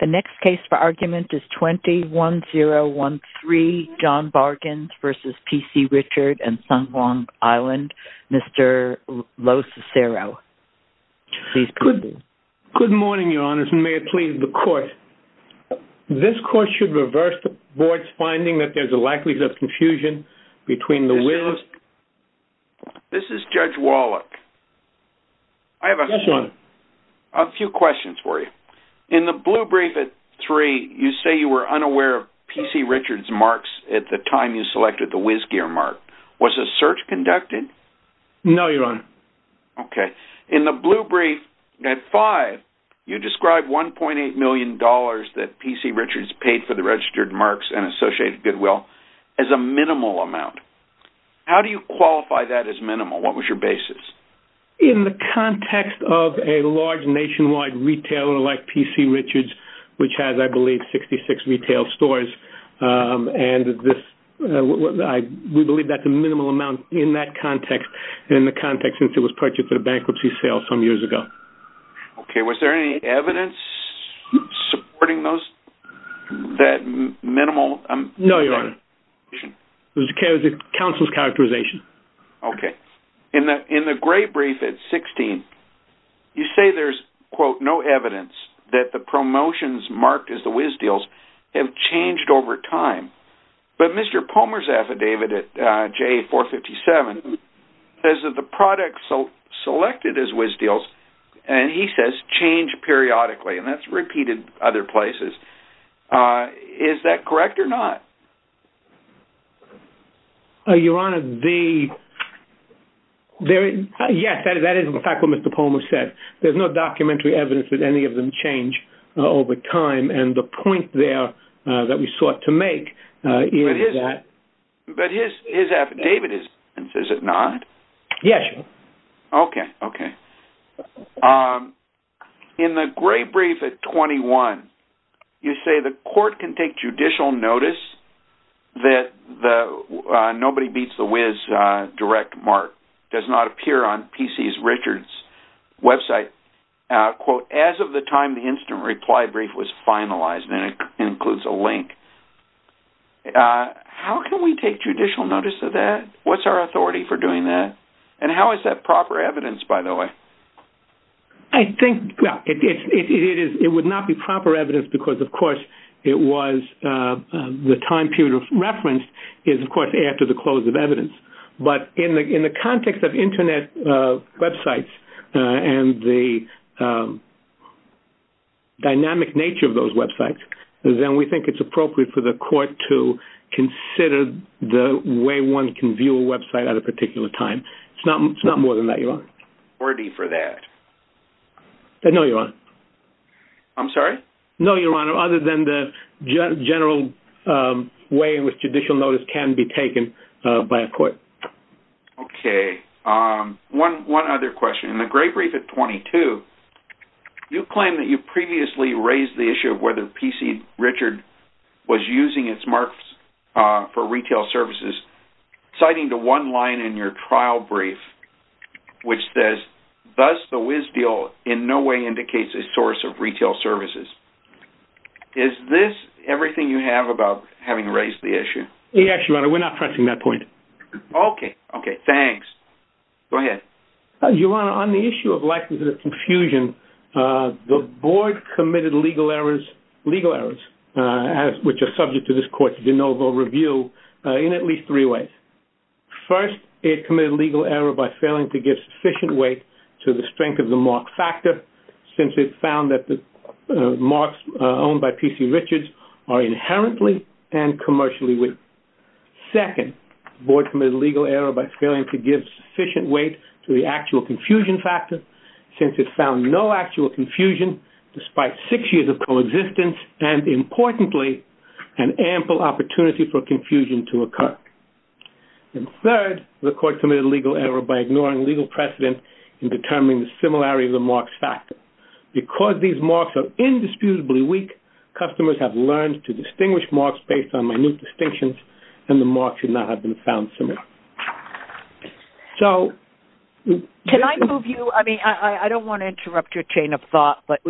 The next case for argument is 21-013 John Bargains v. P.C. Richard & Son Long Island, Mr. Lo Cicero. Good morning, Your Honors, and may it please the Court. This Court should reverse the Board's finding that there is a likelihood of confusion between the will of... This is Judge Wallach. I have a few questions for you. In the blue brief at 3, you say you were unaware of P.C. Richard's marks at the time you selected the WizGear mark. Was a search conducted? No, Your Honor. Okay. In the blue brief at 5, you describe $1.8 million that P.C. Richard's paid for the registered marks and Associated Goodwill as a minimal amount. How do you qualify that as minimal? What was your basis? In the context of a large nationwide retailer like P.C. Richard's, which has, I believe, 66 retail stores, and we believe that's a minimal amount in that context and in the context since it was purchased at a bankruptcy sale some years ago. Okay. Was there any evidence supporting that minimal amount? No, Your Honor. It was counsel's characterization. Okay. In the gray brief at 16, you say there's, quote, no evidence that the promotions marked as the WizDeals have changed over time. But Mr. Palmer's affidavit at JA 457 says that the products selected as WizDeals, and he says, change periodically, and that's repeated other places. Is that correct or not? Your Honor, the – yes, that is in fact what Mr. Palmer said. There's no documentary evidence that any of them change over time, and the point there that we sought to make is that – But his affidavit is – is it not? Yes, Your Honor. Okay, okay. In the gray brief at 21, you say the court can take judicial notice that the Nobody Beats the Wiz direct mark does not appear on P.C. Richard's website, quote, as of the time the instant reply brief was finalized, and it includes a link. How can we take judicial notice of that? What's our authority for doing that? And how is that proper evidence, by the way? I think – well, it is – it would not be proper evidence because, of course, it was – the time period of reference is, of course, after the close of evidence. But in the context of Internet websites and the dynamic nature of those websites, then we think it's appropriate for the court to consider the way one can view a website at a particular time. It's not more than that, Your Honor. Authority for that? No, Your Honor. I'm sorry? No, Your Honor, other than the general way in which judicial notice can be taken by a court. Okay. One other question. In the gray brief at 22, you claim that you previously raised the issue of whether P.C. Richard was using its marks for retail services, citing the one line in your trial brief which says, thus the whiz deal in no way indicates a source of retail services. Is this everything you have about having raised the issue? Yes, Your Honor. We're not pressing that point. Okay. Okay. Thanks. Go ahead. Your Honor, on the issue of likelihood of confusion, the board committed legal errors, which are subject to this court's de novo review, in at least three ways. First, it committed legal error by failing to give sufficient weight to the strength of the mark factor, since it found that the marks owned by P.C. Richards are inherently and commercially weak. Second, the board committed legal error by failing to give sufficient weight to the actual confusion factor, since it found no actual confusion despite six years of coexistence and, importantly, an ample opportunity for confusion to occur. And third, the court committed legal error by ignoring legal precedent in determining the similarity of the marks factor. Because these marks are indisputably weak, customers have learned to distinguish marks based on minute distinctions, and the marks should not have been found similar. So... Can I move you... I mean, I don't want to interrupt your chain of thought, but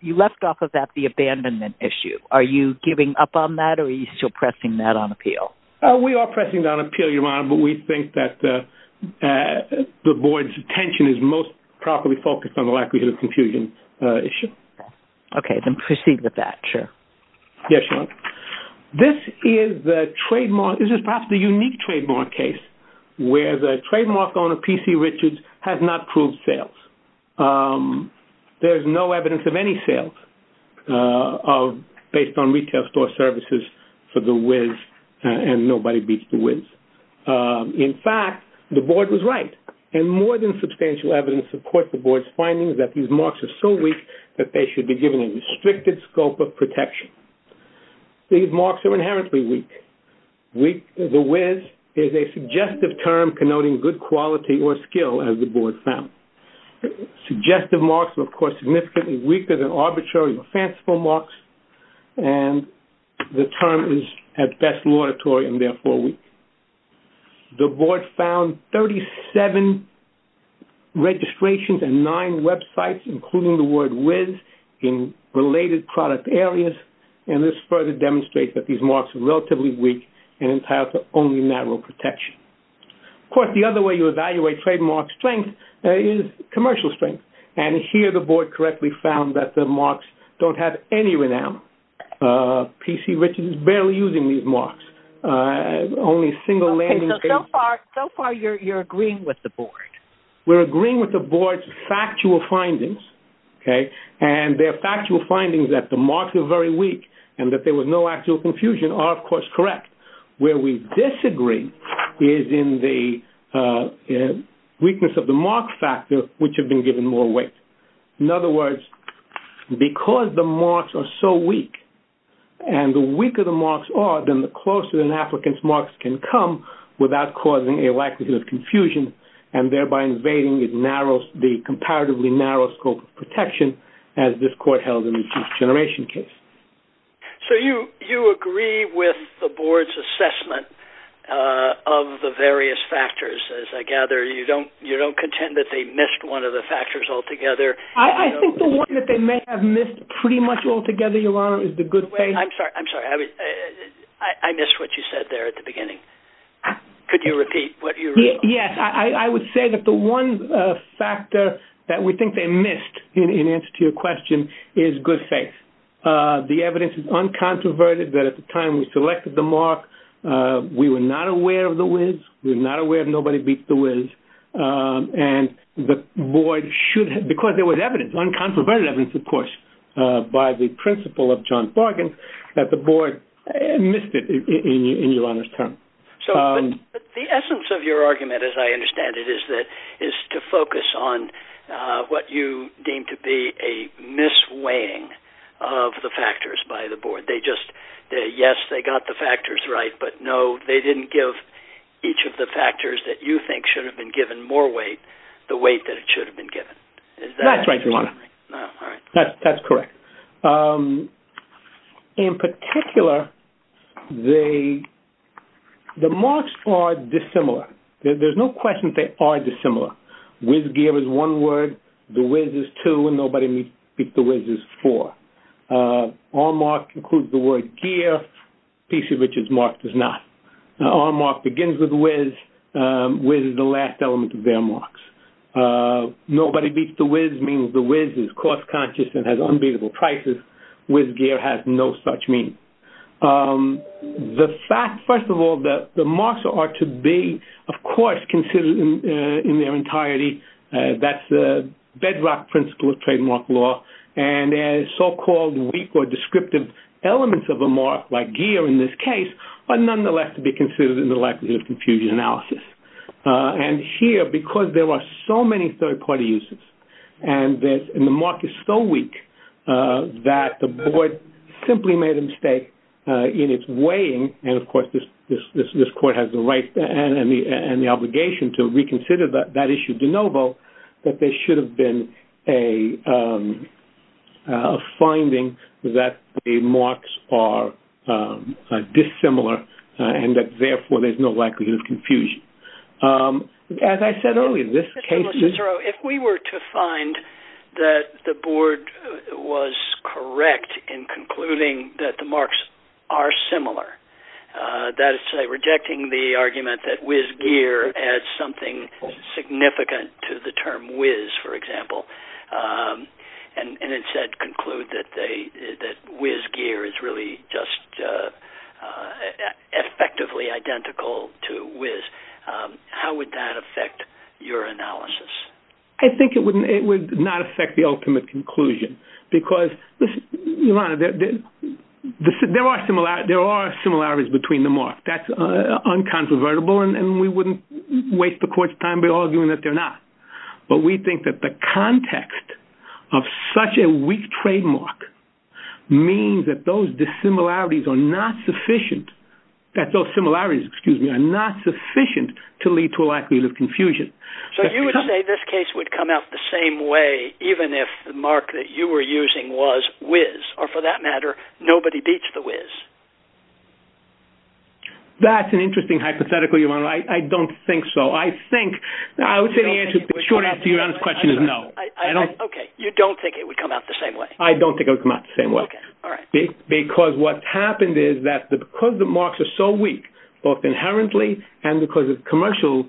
you left off of that the abandonment issue. Are you giving up on that, or are you still pressing that on appeal? We are pressing it on appeal, Your Honor, but we think that the board's attention is most properly focused on the likelihood of confusion issue. Yes, Your Honor. This is perhaps the unique trademark case where the trademark owner, P.C. Richards, has not proved sales. There is no evidence of any sales based on retail store services for the whiz, and nobody beats the whiz. In fact, the board was right. And more than substantial evidence supports the board's findings that these marks are so weak that they should be given a restricted scope of protection. These marks are inherently weak. Weak as a whiz is a suggestive term connoting good quality or skill, as the board found. Suggestive marks are, of course, significantly weaker than arbitrary or fanciful marks, and the term is at best laudatory and therefore weak. The board found 37 registrations and nine websites, including the word whiz, in related product areas, and this further demonstrates that these marks are relatively weak and entitled to only natural protection. Of course, the other way you evaluate trademark strength is commercial strength, and here the board correctly found that the marks don't have any renown. P.C. Richards is barely using these marks. So far you're agreeing with the board. We're agreeing with the board's factual findings, and their factual findings that the marks are very weak and that there was no actual confusion are, of course, correct. Where we disagree is in the weakness of the mark factor, which have been given more weight. In other words, because the marks are so weak, and the weaker the marks are, then the closer an applicant's marks can come without causing a lack of confusion, and thereby invading the comparatively narrow scope of protection, as this court held in the Fifth Generation case. So you agree with the board's assessment of the various factors. As I gather, you don't contend that they missed one of the factors altogether. I think the one that they may have missed pretty much altogether, Your Honor, is the good faith. I'm sorry. I missed what you said there at the beginning. Could you repeat what you said? Yes. I would say that the one factor that we think they missed, in answer to your question, is good faith. The evidence is uncontroverted that at the time we selected the mark, we were not aware of the whiz. We were not aware that nobody beat the whiz. And the board should have, because there was evidence, uncontroverted evidence, of course, by the principal of John Fargan, that the board missed it, in your Honor's term. But the essence of your argument, as I understand it, is to focus on what you deem to be a mis-weighing of the factors by the board. Yes, they got the factors right, but no, they didn't give each of the factors that you think should have been given more weight the weight that it should have been given. That's right, Your Honor. That's correct. In particular, the marks are dissimilar. There's no question they are dissimilar. Whiz gear is one word. The whiz is two and nobody beat the whiz is four. Our mark includes the word gear, PC Richard's mark does not. Our mark begins with whiz. Whiz is the last element of their marks. Nobody beats the whiz means the whiz is cost-conscious and has unbeatable prices. Whiz gear has no such meaning. The fact, first of all, that the marks are to be, of course, considered in their entirety. That's the bedrock principle of trademark law. And so-called weak or descriptive elements of a mark, like gear in this case, are nonetheless to be considered in the likelihood of confusion analysis. And here, because there are so many third-party uses and the mark is so weak that the board simply made a mistake in its weighing, and, of course, this court has the right and the obligation to reconsider that issue de novo, that there should have been a finding that the marks are dissimilar and that, therefore, there's no likelihood of confusion. As I said earlier, this case is- If we were to find that the board was correct in concluding that the marks are similar, that is to say, rejecting the argument that whiz gear adds something significant to the term whiz, for example, and instead conclude that whiz gear is really just effectively identical to whiz, how would that affect your analysis? I think it would not affect the ultimate conclusion because, there are similarities between the marks. That's unconvertible, and we wouldn't waste the court's time by arguing that they're not. But we think that the context of such a weak trademark means that those dissimilarities are not sufficient- that those similarities, excuse me, are not sufficient to lead to a likelihood of confusion. So you would say this case would come out the same way even if the mark that you were using was whiz, or, for that matter, nobody beats the whiz? That's an interesting hypothetical, Your Honor. I don't think so. I would say the short answer to Your Honor's question is no. Okay. You don't think it would come out the same way? I don't think it would come out the same way. Okay. All right. Because what happened is that because the marks are so weak, both inherently and because of commercial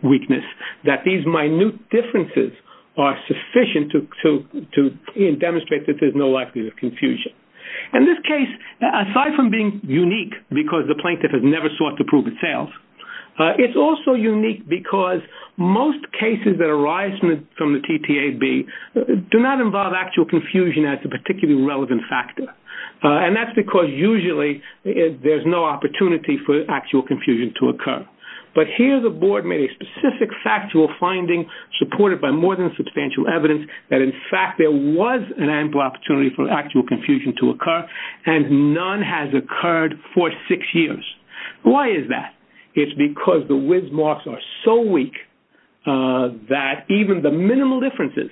weakness, that these minute differences are sufficient to demonstrate that there's no likelihood of confusion. In this case, aside from being unique because the plaintiff has never sought to prove itself, it's also unique because most cases that arise from the TTAB do not involve actual confusion as a particularly relevant factor. And that's because usually there's no opportunity for actual confusion to occur. But here the board made a specific factual finding supported by more than substantial evidence that, in fact, there was an ample opportunity for actual confusion to occur, and none has occurred for six years. Why is that? It's because the whiz marks are so weak that even the minimal differences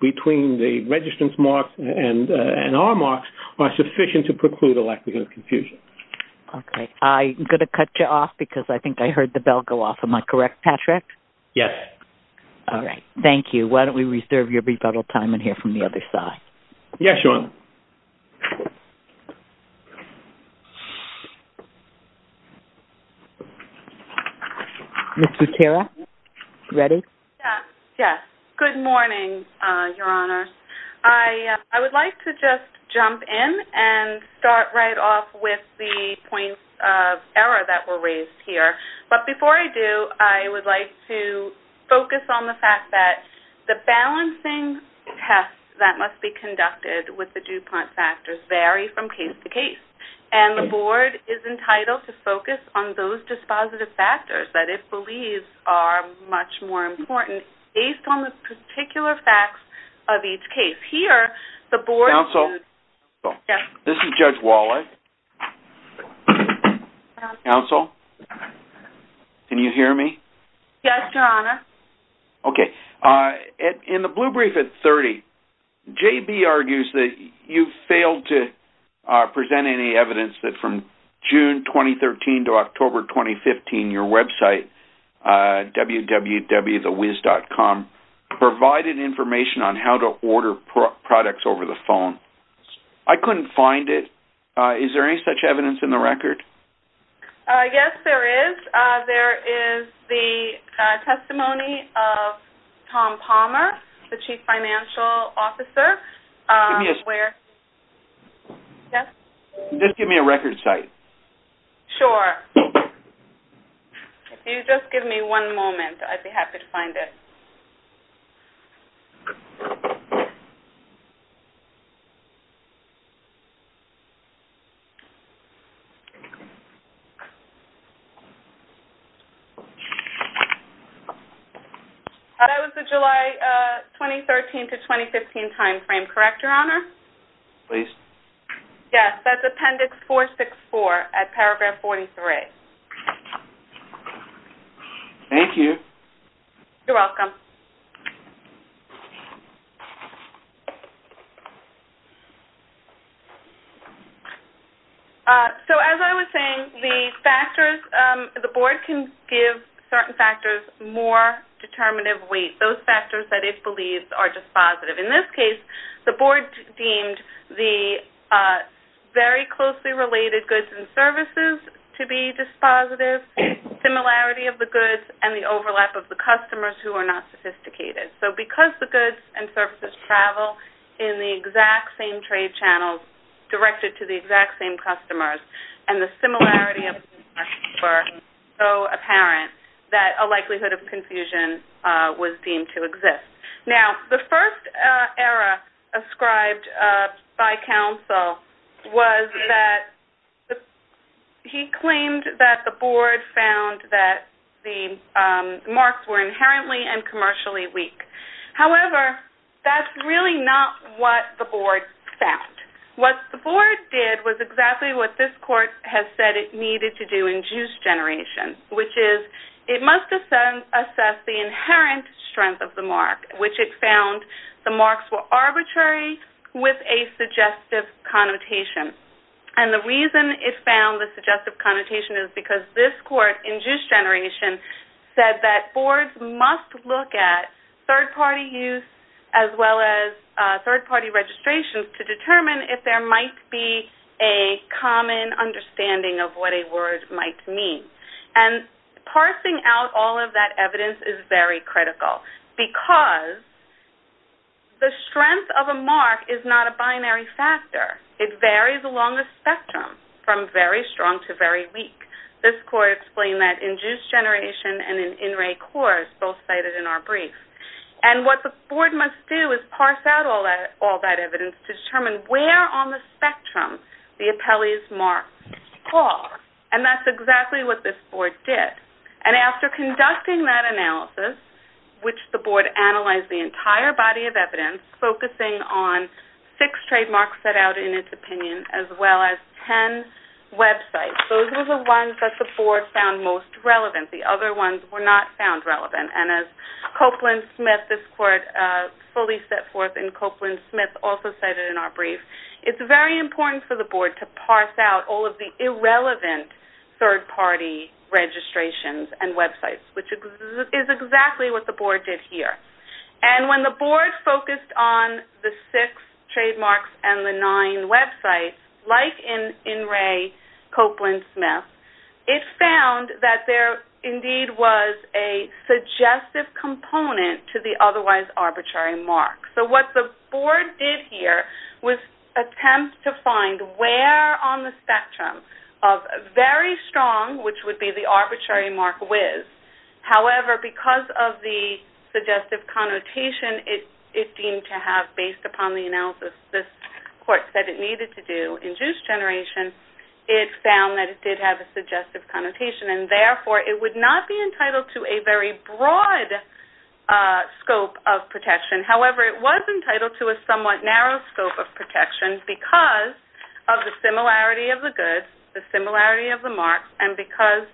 between the registrants' marks and our marks are sufficient to preclude a likelihood of confusion. Okay. I'm going to cut you off because I think I heard the bell go off. Am I correct, Patrick? Yes. All right. Thank you. Why don't we reserve your rebuttal time and hear from the other side. Yes, Your Honor. Ms. Zutera, are you ready? Yes. Good morning, Your Honor. I would like to just jump in and start right off with the points of error that were raised here. But before I do, I would like to focus on the fact that the balancing tests that must be conducted with the DuPont factors vary from case to case, and the Board is entitled to focus on those dispositive factors that it believes are much more important based on the particular facts of each case. Here, the Board— Counsel? Yes. This is Judge Wallach. Counsel? Can you hear me? Yes, Your Honor. Okay. In the blue brief at 30, J.B. argues that you failed to present any evidence that from June 2013 to October 2015, your website, www.thewiz.com, provided information on how to order products over the phone. I couldn't find it. Is there any such evidence in the record? Yes, there is. There is the testimony of Tom Palmer, the Chief Financial Officer. Just give me a record site. Sure. If you just give me one moment, I'd be happy to find it. That was the July 2013 to 2015 timeframe, correct, Your Honor? Please. Yes, that's Appendix 464 at paragraph 43. Thank you. You're welcome. So, as I was saying, the Board can give certain factors more determinative weight, those factors that it believes are dispositive. In this case, the Board deemed the very closely related goods and services to be dispositive, similarity of the goods, and the overlap of the customers who are not sufficient. So because the goods and services travel in the exact same trade channels directed to the exact same customers and the similarity of the customers were so apparent that a likelihood of confusion was deemed to exist. Now, the first error ascribed by counsel was that he claimed that the Board found that the marks were inherently and commercially weak. However, that's really not what the Board found. What the Board did was exactly what this Court has said it needed to do in Juice Generation, which is it must assess the inherent strength of the mark, which it found the marks were arbitrary with a suggestive connotation. And the reason it found the suggestive connotation is because this Court in Juice Generation said that it must look at third-party use as well as third-party registration to determine if there might be a common understanding of what a word might mean. And parsing out all of that evidence is very critical because the strength of a mark is not a binary factor. It varies along the spectrum from very strong to very weak. This Court explained that in Juice Generation and in In Re Coors, both cited in our brief. And what the Board must do is parse out all that evidence to determine where on the spectrum the appellees' marks fall. And that's exactly what this Board did. And after conducting that analysis, which the Board analyzed the entire body of evidence, focusing on six trademarks set out in its opinion as well as ten websites, those were the ones that the Board found most relevant. The other ones were not found relevant. And as Copeland Smith, this Court fully set forth in Copeland Smith, also cited in our brief, it's very important for the Board to parse out all of the irrelevant third-party registrations and websites, which is exactly what the Board did here. And when the Board focused on the six trademarks and the nine websites, like in Re Copeland Smith, it found that there indeed was a suggestive component to the otherwise arbitrary mark. So what the Board did here was attempt to find where on the spectrum of very strong, which would be the arbitrary mark whiz. However, because of the suggestive connotation it deemed to have based upon the analysis this Court said it needed to do in juice generation, it found that it did have a suggestive connotation, and therefore it would not be entitled to a very broad scope of protection. However, it was entitled to a somewhat narrow scope of protection because of the similarity of the goods, the similarity of the marks, and because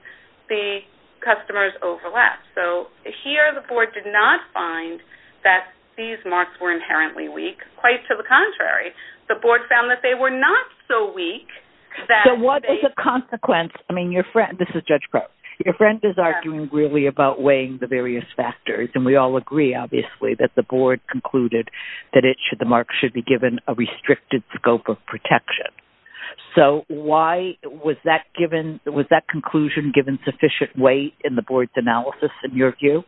the customers overlapped. So here the Board did not find that these marks were inherently weak. Quite to the contrary, the Board found that they were not so weak that they... So what is the consequence? I mean, your friend, this is Judge Crow, your friend is arguing really about weighing the various factors, and we all agree, obviously, that the Board concluded that the mark should be given a restricted scope of protection. So was that conclusion given sufficient weight in the Board's analysis, in your view?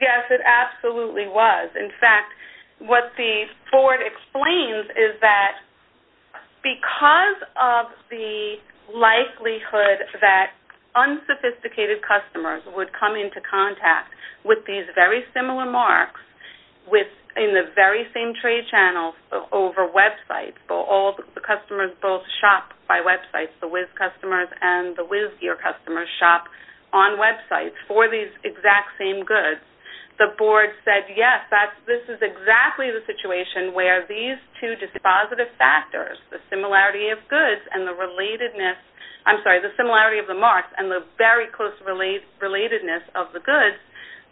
Yes, it absolutely was. In fact, what the Board explains is that because of the likelihood that unsophisticated customers would come into contact with these very similar marks in the very same trade channels over websites, all the customers both shop by websites. The WIS customers and the WISgear customers shop on websites for these exact same goods. The Board said, yes, this is exactly the situation where these two dispositive factors, the similarity of goods and the relatedness... I'm sorry, the similarity of the marks and the very close relatedness of the goods,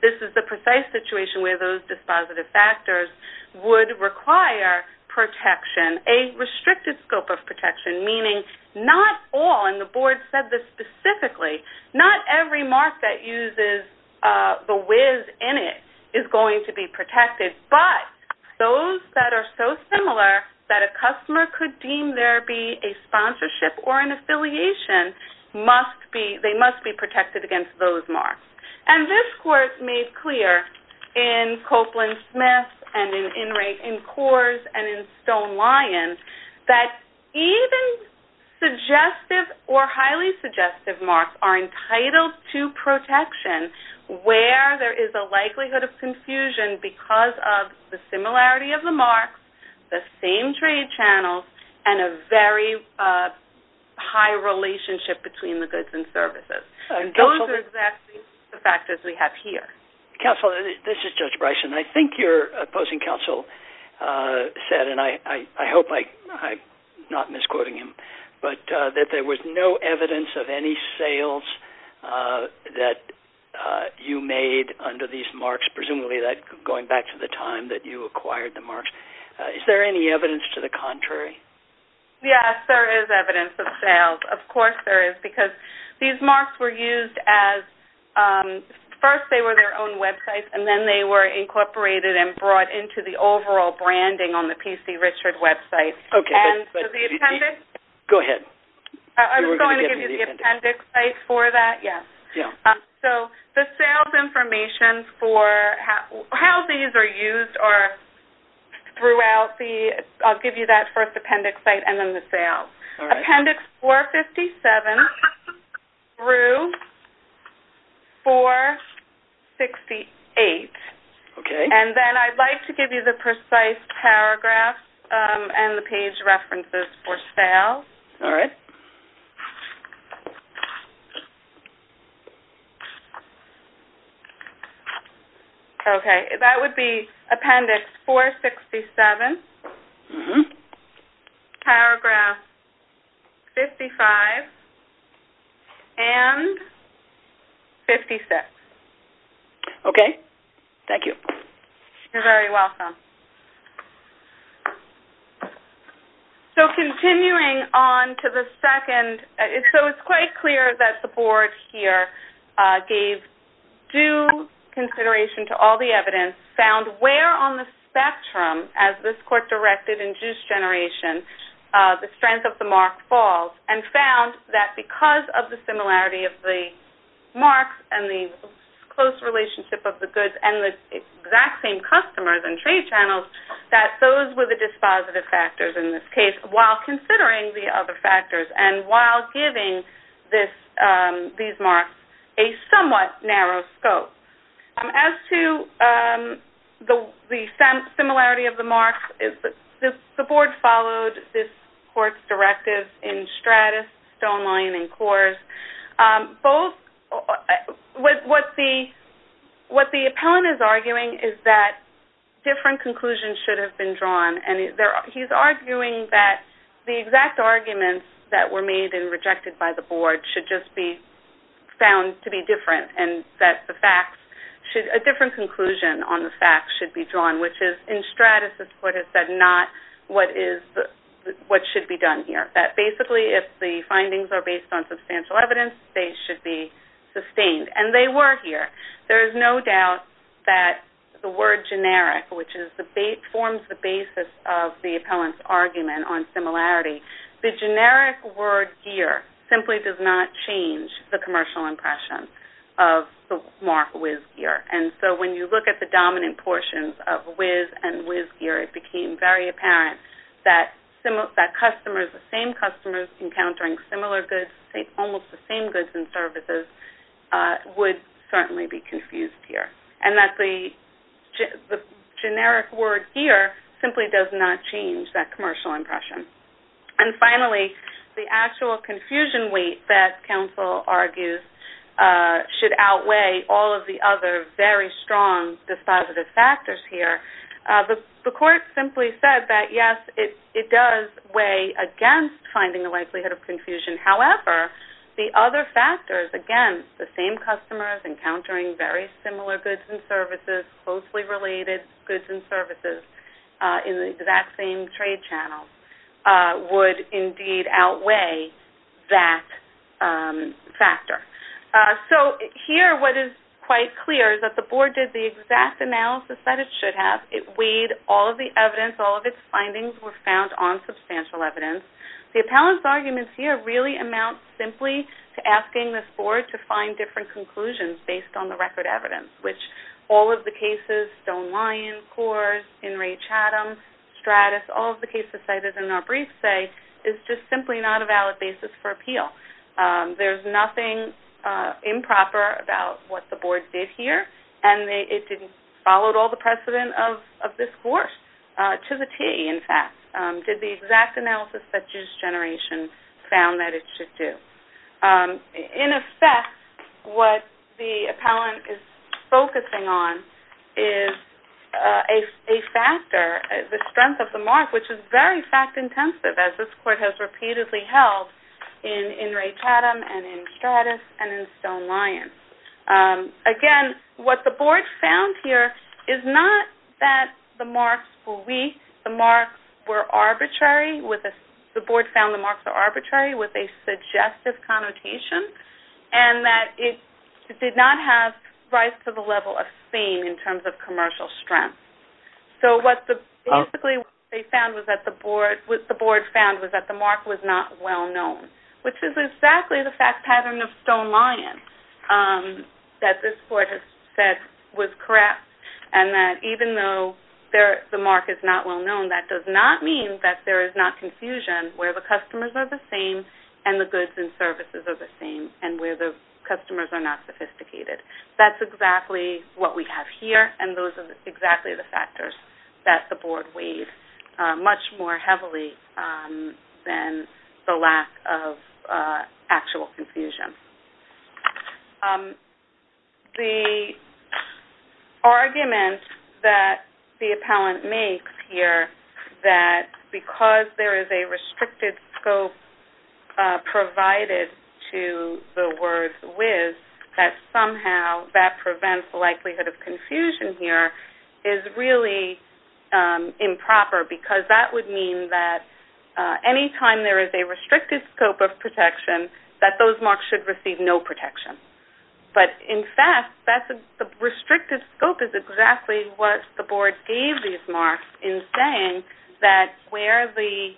this is the precise situation where those dispositive factors would require protection, a restricted scope of protection, meaning not all, and the Board said this specifically, not every mark that uses the WIS in it is going to be protected, but those that are so similar that a customer could deem there be a sponsorship or an affiliation must be...they must be protected against those marks. And this Court made clear in Copeland-Smith and in Coors and in Stone-Lyons that even suggestive or highly suggestive marks are entitled to protection where there is a likelihood of confusion because of the similarity of the marks, the same trade channels, and a very high relationship between the goods and services. Those are exactly the factors we have here. Counsel, this is Judge Bryson. I think your opposing counsel said, and I hope I'm not misquoting him, but that there was no evidence of any sales that you made under these marks, presumably going back to the time that you acquired the marks. Is there any evidence to the contrary? Yes, there is evidence of sales. Of course there is because these marks were used as...first they were their own websites and then they were incorporated and brought into the overall branding on the P.C. Richard website. Go ahead. I was going to give you the appendix site for that, yes. So the sales information for how these are used are throughout the... I'll give you that first appendix site and then the sales. Appendix 457 through 468. Okay. And then I'd like to give you the precise paragraphs and the page references for sales. All right. Okay. That would be appendix 467, paragraph 55, and 56. Okay. Thank you. You're very welcome. So continuing on to the second. So it's quite clear that the board here gave due consideration to all the evidence, found where on the spectrum, as this court directed in juice generation, the strength of the mark falls, and found that because of the similarity of the marks and the close relationship of the goods and the exact same customers and trade channels, that those were the dispositive factors in this case, while considering the other factors and while giving these marks a somewhat narrow scope. As to the similarity of the marks, the board followed this court's directive in Stratus, Stoneline, and Coors. What the appellant is arguing is that different conclusions should have been drawn, and he's arguing that the exact arguments that were made and rejected by the board should just be found to be different and that a different conclusion on the facts should be drawn, which is in Stratus, this court has said, not what should be done here. That basically if the findings are based on substantial evidence, they should be sustained. And they were here. There is no doubt that the word generic, which forms the basis of the appellant's argument on similarity, the generic word gear simply does not change the commercial impression of the mark whiz gear. And so when you look at the dominant portions of whiz and whiz gear, it became very apparent that the same customers encountering similar goods, almost the same goods and services, would certainly be confused here, and that the generic word gear simply does not change that commercial impression. And finally, the actual confusion weight that counsel argues should outweigh all of the other very strong dispositive factors here. The court simply said that, yes, it does weigh against finding the likelihood of confusion. However, the other factors, again, the same customers encountering very similar goods and services, closely related goods and services in the exact same trade channel, would indeed outweigh that factor. So here what is quite clear is that the board did the exact analysis that it should have. It weighed all of the evidence. All of its findings were found on substantial evidence. The appellant's arguments here really amount simply to asking this board to find different conclusions based on the record evidence, which all of the cases, Stone-Lyon, Coors, Enrage-Hattem, Stratis, all of the cases cited in our brief say, is just simply not a valid basis for appeal. There's nothing improper about what the board did here, and it didn't follow all the precedent of this Coors to the T, in fact, did the exact analysis that this generation found that it should do. In effect, what the appellant is focusing on is a factor, the strength of the mark, which is very fact-intensive, as this court has repeatedly held in Enrage-Hattem and in Stratis and in Stone-Lyon. Again, what the board found here is not that the marks were weak. The marks were arbitrary. The board found the marks were arbitrary with a suggestive connotation and that it did not have rise to the level of fame in terms of commercial strength. Basically, what the board found was that the mark was not well-known, which is exactly the fact pattern of Stone-Lyon that this court has said was correct and that even though the mark is not well-known, that does not mean that there is not confusion where the customers are the same and the goods and services are the same and where the customers are not sophisticated. That's exactly what we have here and those are exactly the factors that the board weighed much more heavily than the lack of actual confusion. The argument that the appellant makes here that because there is a restricted scope provided to the words with that somehow that prevents likelihood of confusion here is really improper because that would mean that anytime there is a restricted scope of protection that those marks should receive no protection. In fact, the restricted scope is exactly what the board gave these marks in saying that where the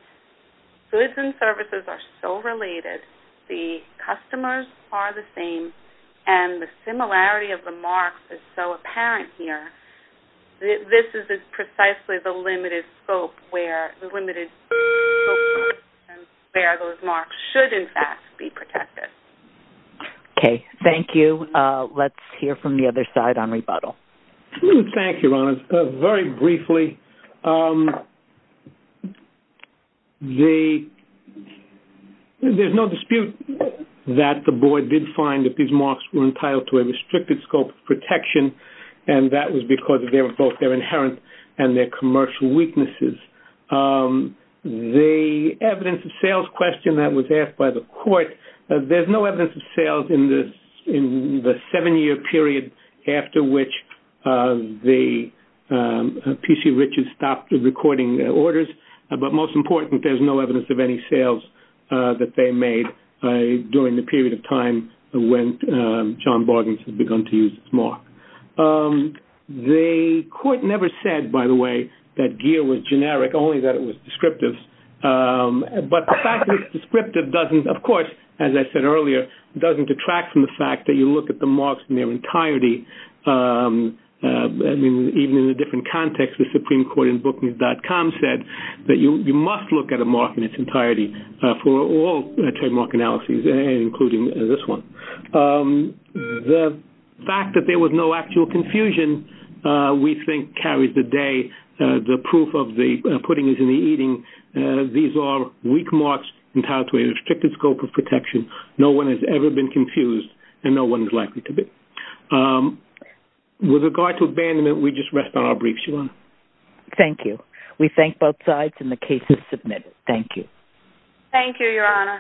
goods and services are so related, the customers are the same, and the similarity of the marks is so apparent here. This is precisely the limited scope where those marks should, in fact, be protected. Okay. Thank you. Let's hear from the other side on rebuttal. Thank you, Your Honors. Very briefly, there is no dispute that the board did find that these marks were entitled to a restricted scope of protection and that was because of both their inherent and their commercial weaknesses. The evidence of sales question that was asked by the court, there's no evidence of sales in the seven-year period after which the P.C. Richards stopped recording their orders, but most important, there's no evidence of any sales that they made during the period of time when John Bargains had begun to use this mark. The court never said, by the way, that Gere was generic, only that it was descriptive, but the fact that it's descriptive doesn't, of course, as I said earlier, doesn't detract from the fact that you look at the marks in their entirety. I mean, even in a different context, the Supreme Court in book.com said that you must look at a mark in its entirety for all trademark analyses, including this one. The fact that there was no actual confusion, we think, carries the day. The proof of the pudding is in the eating. These are weak marks entitled to a restricted scope of protection. No one has ever been confused and no one is likely to be. With regard to abandonment, we just rest on our briefs, Your Honor. Thank you. We thank both sides and the case is submitted. Thank you. Thank you, Your Honor.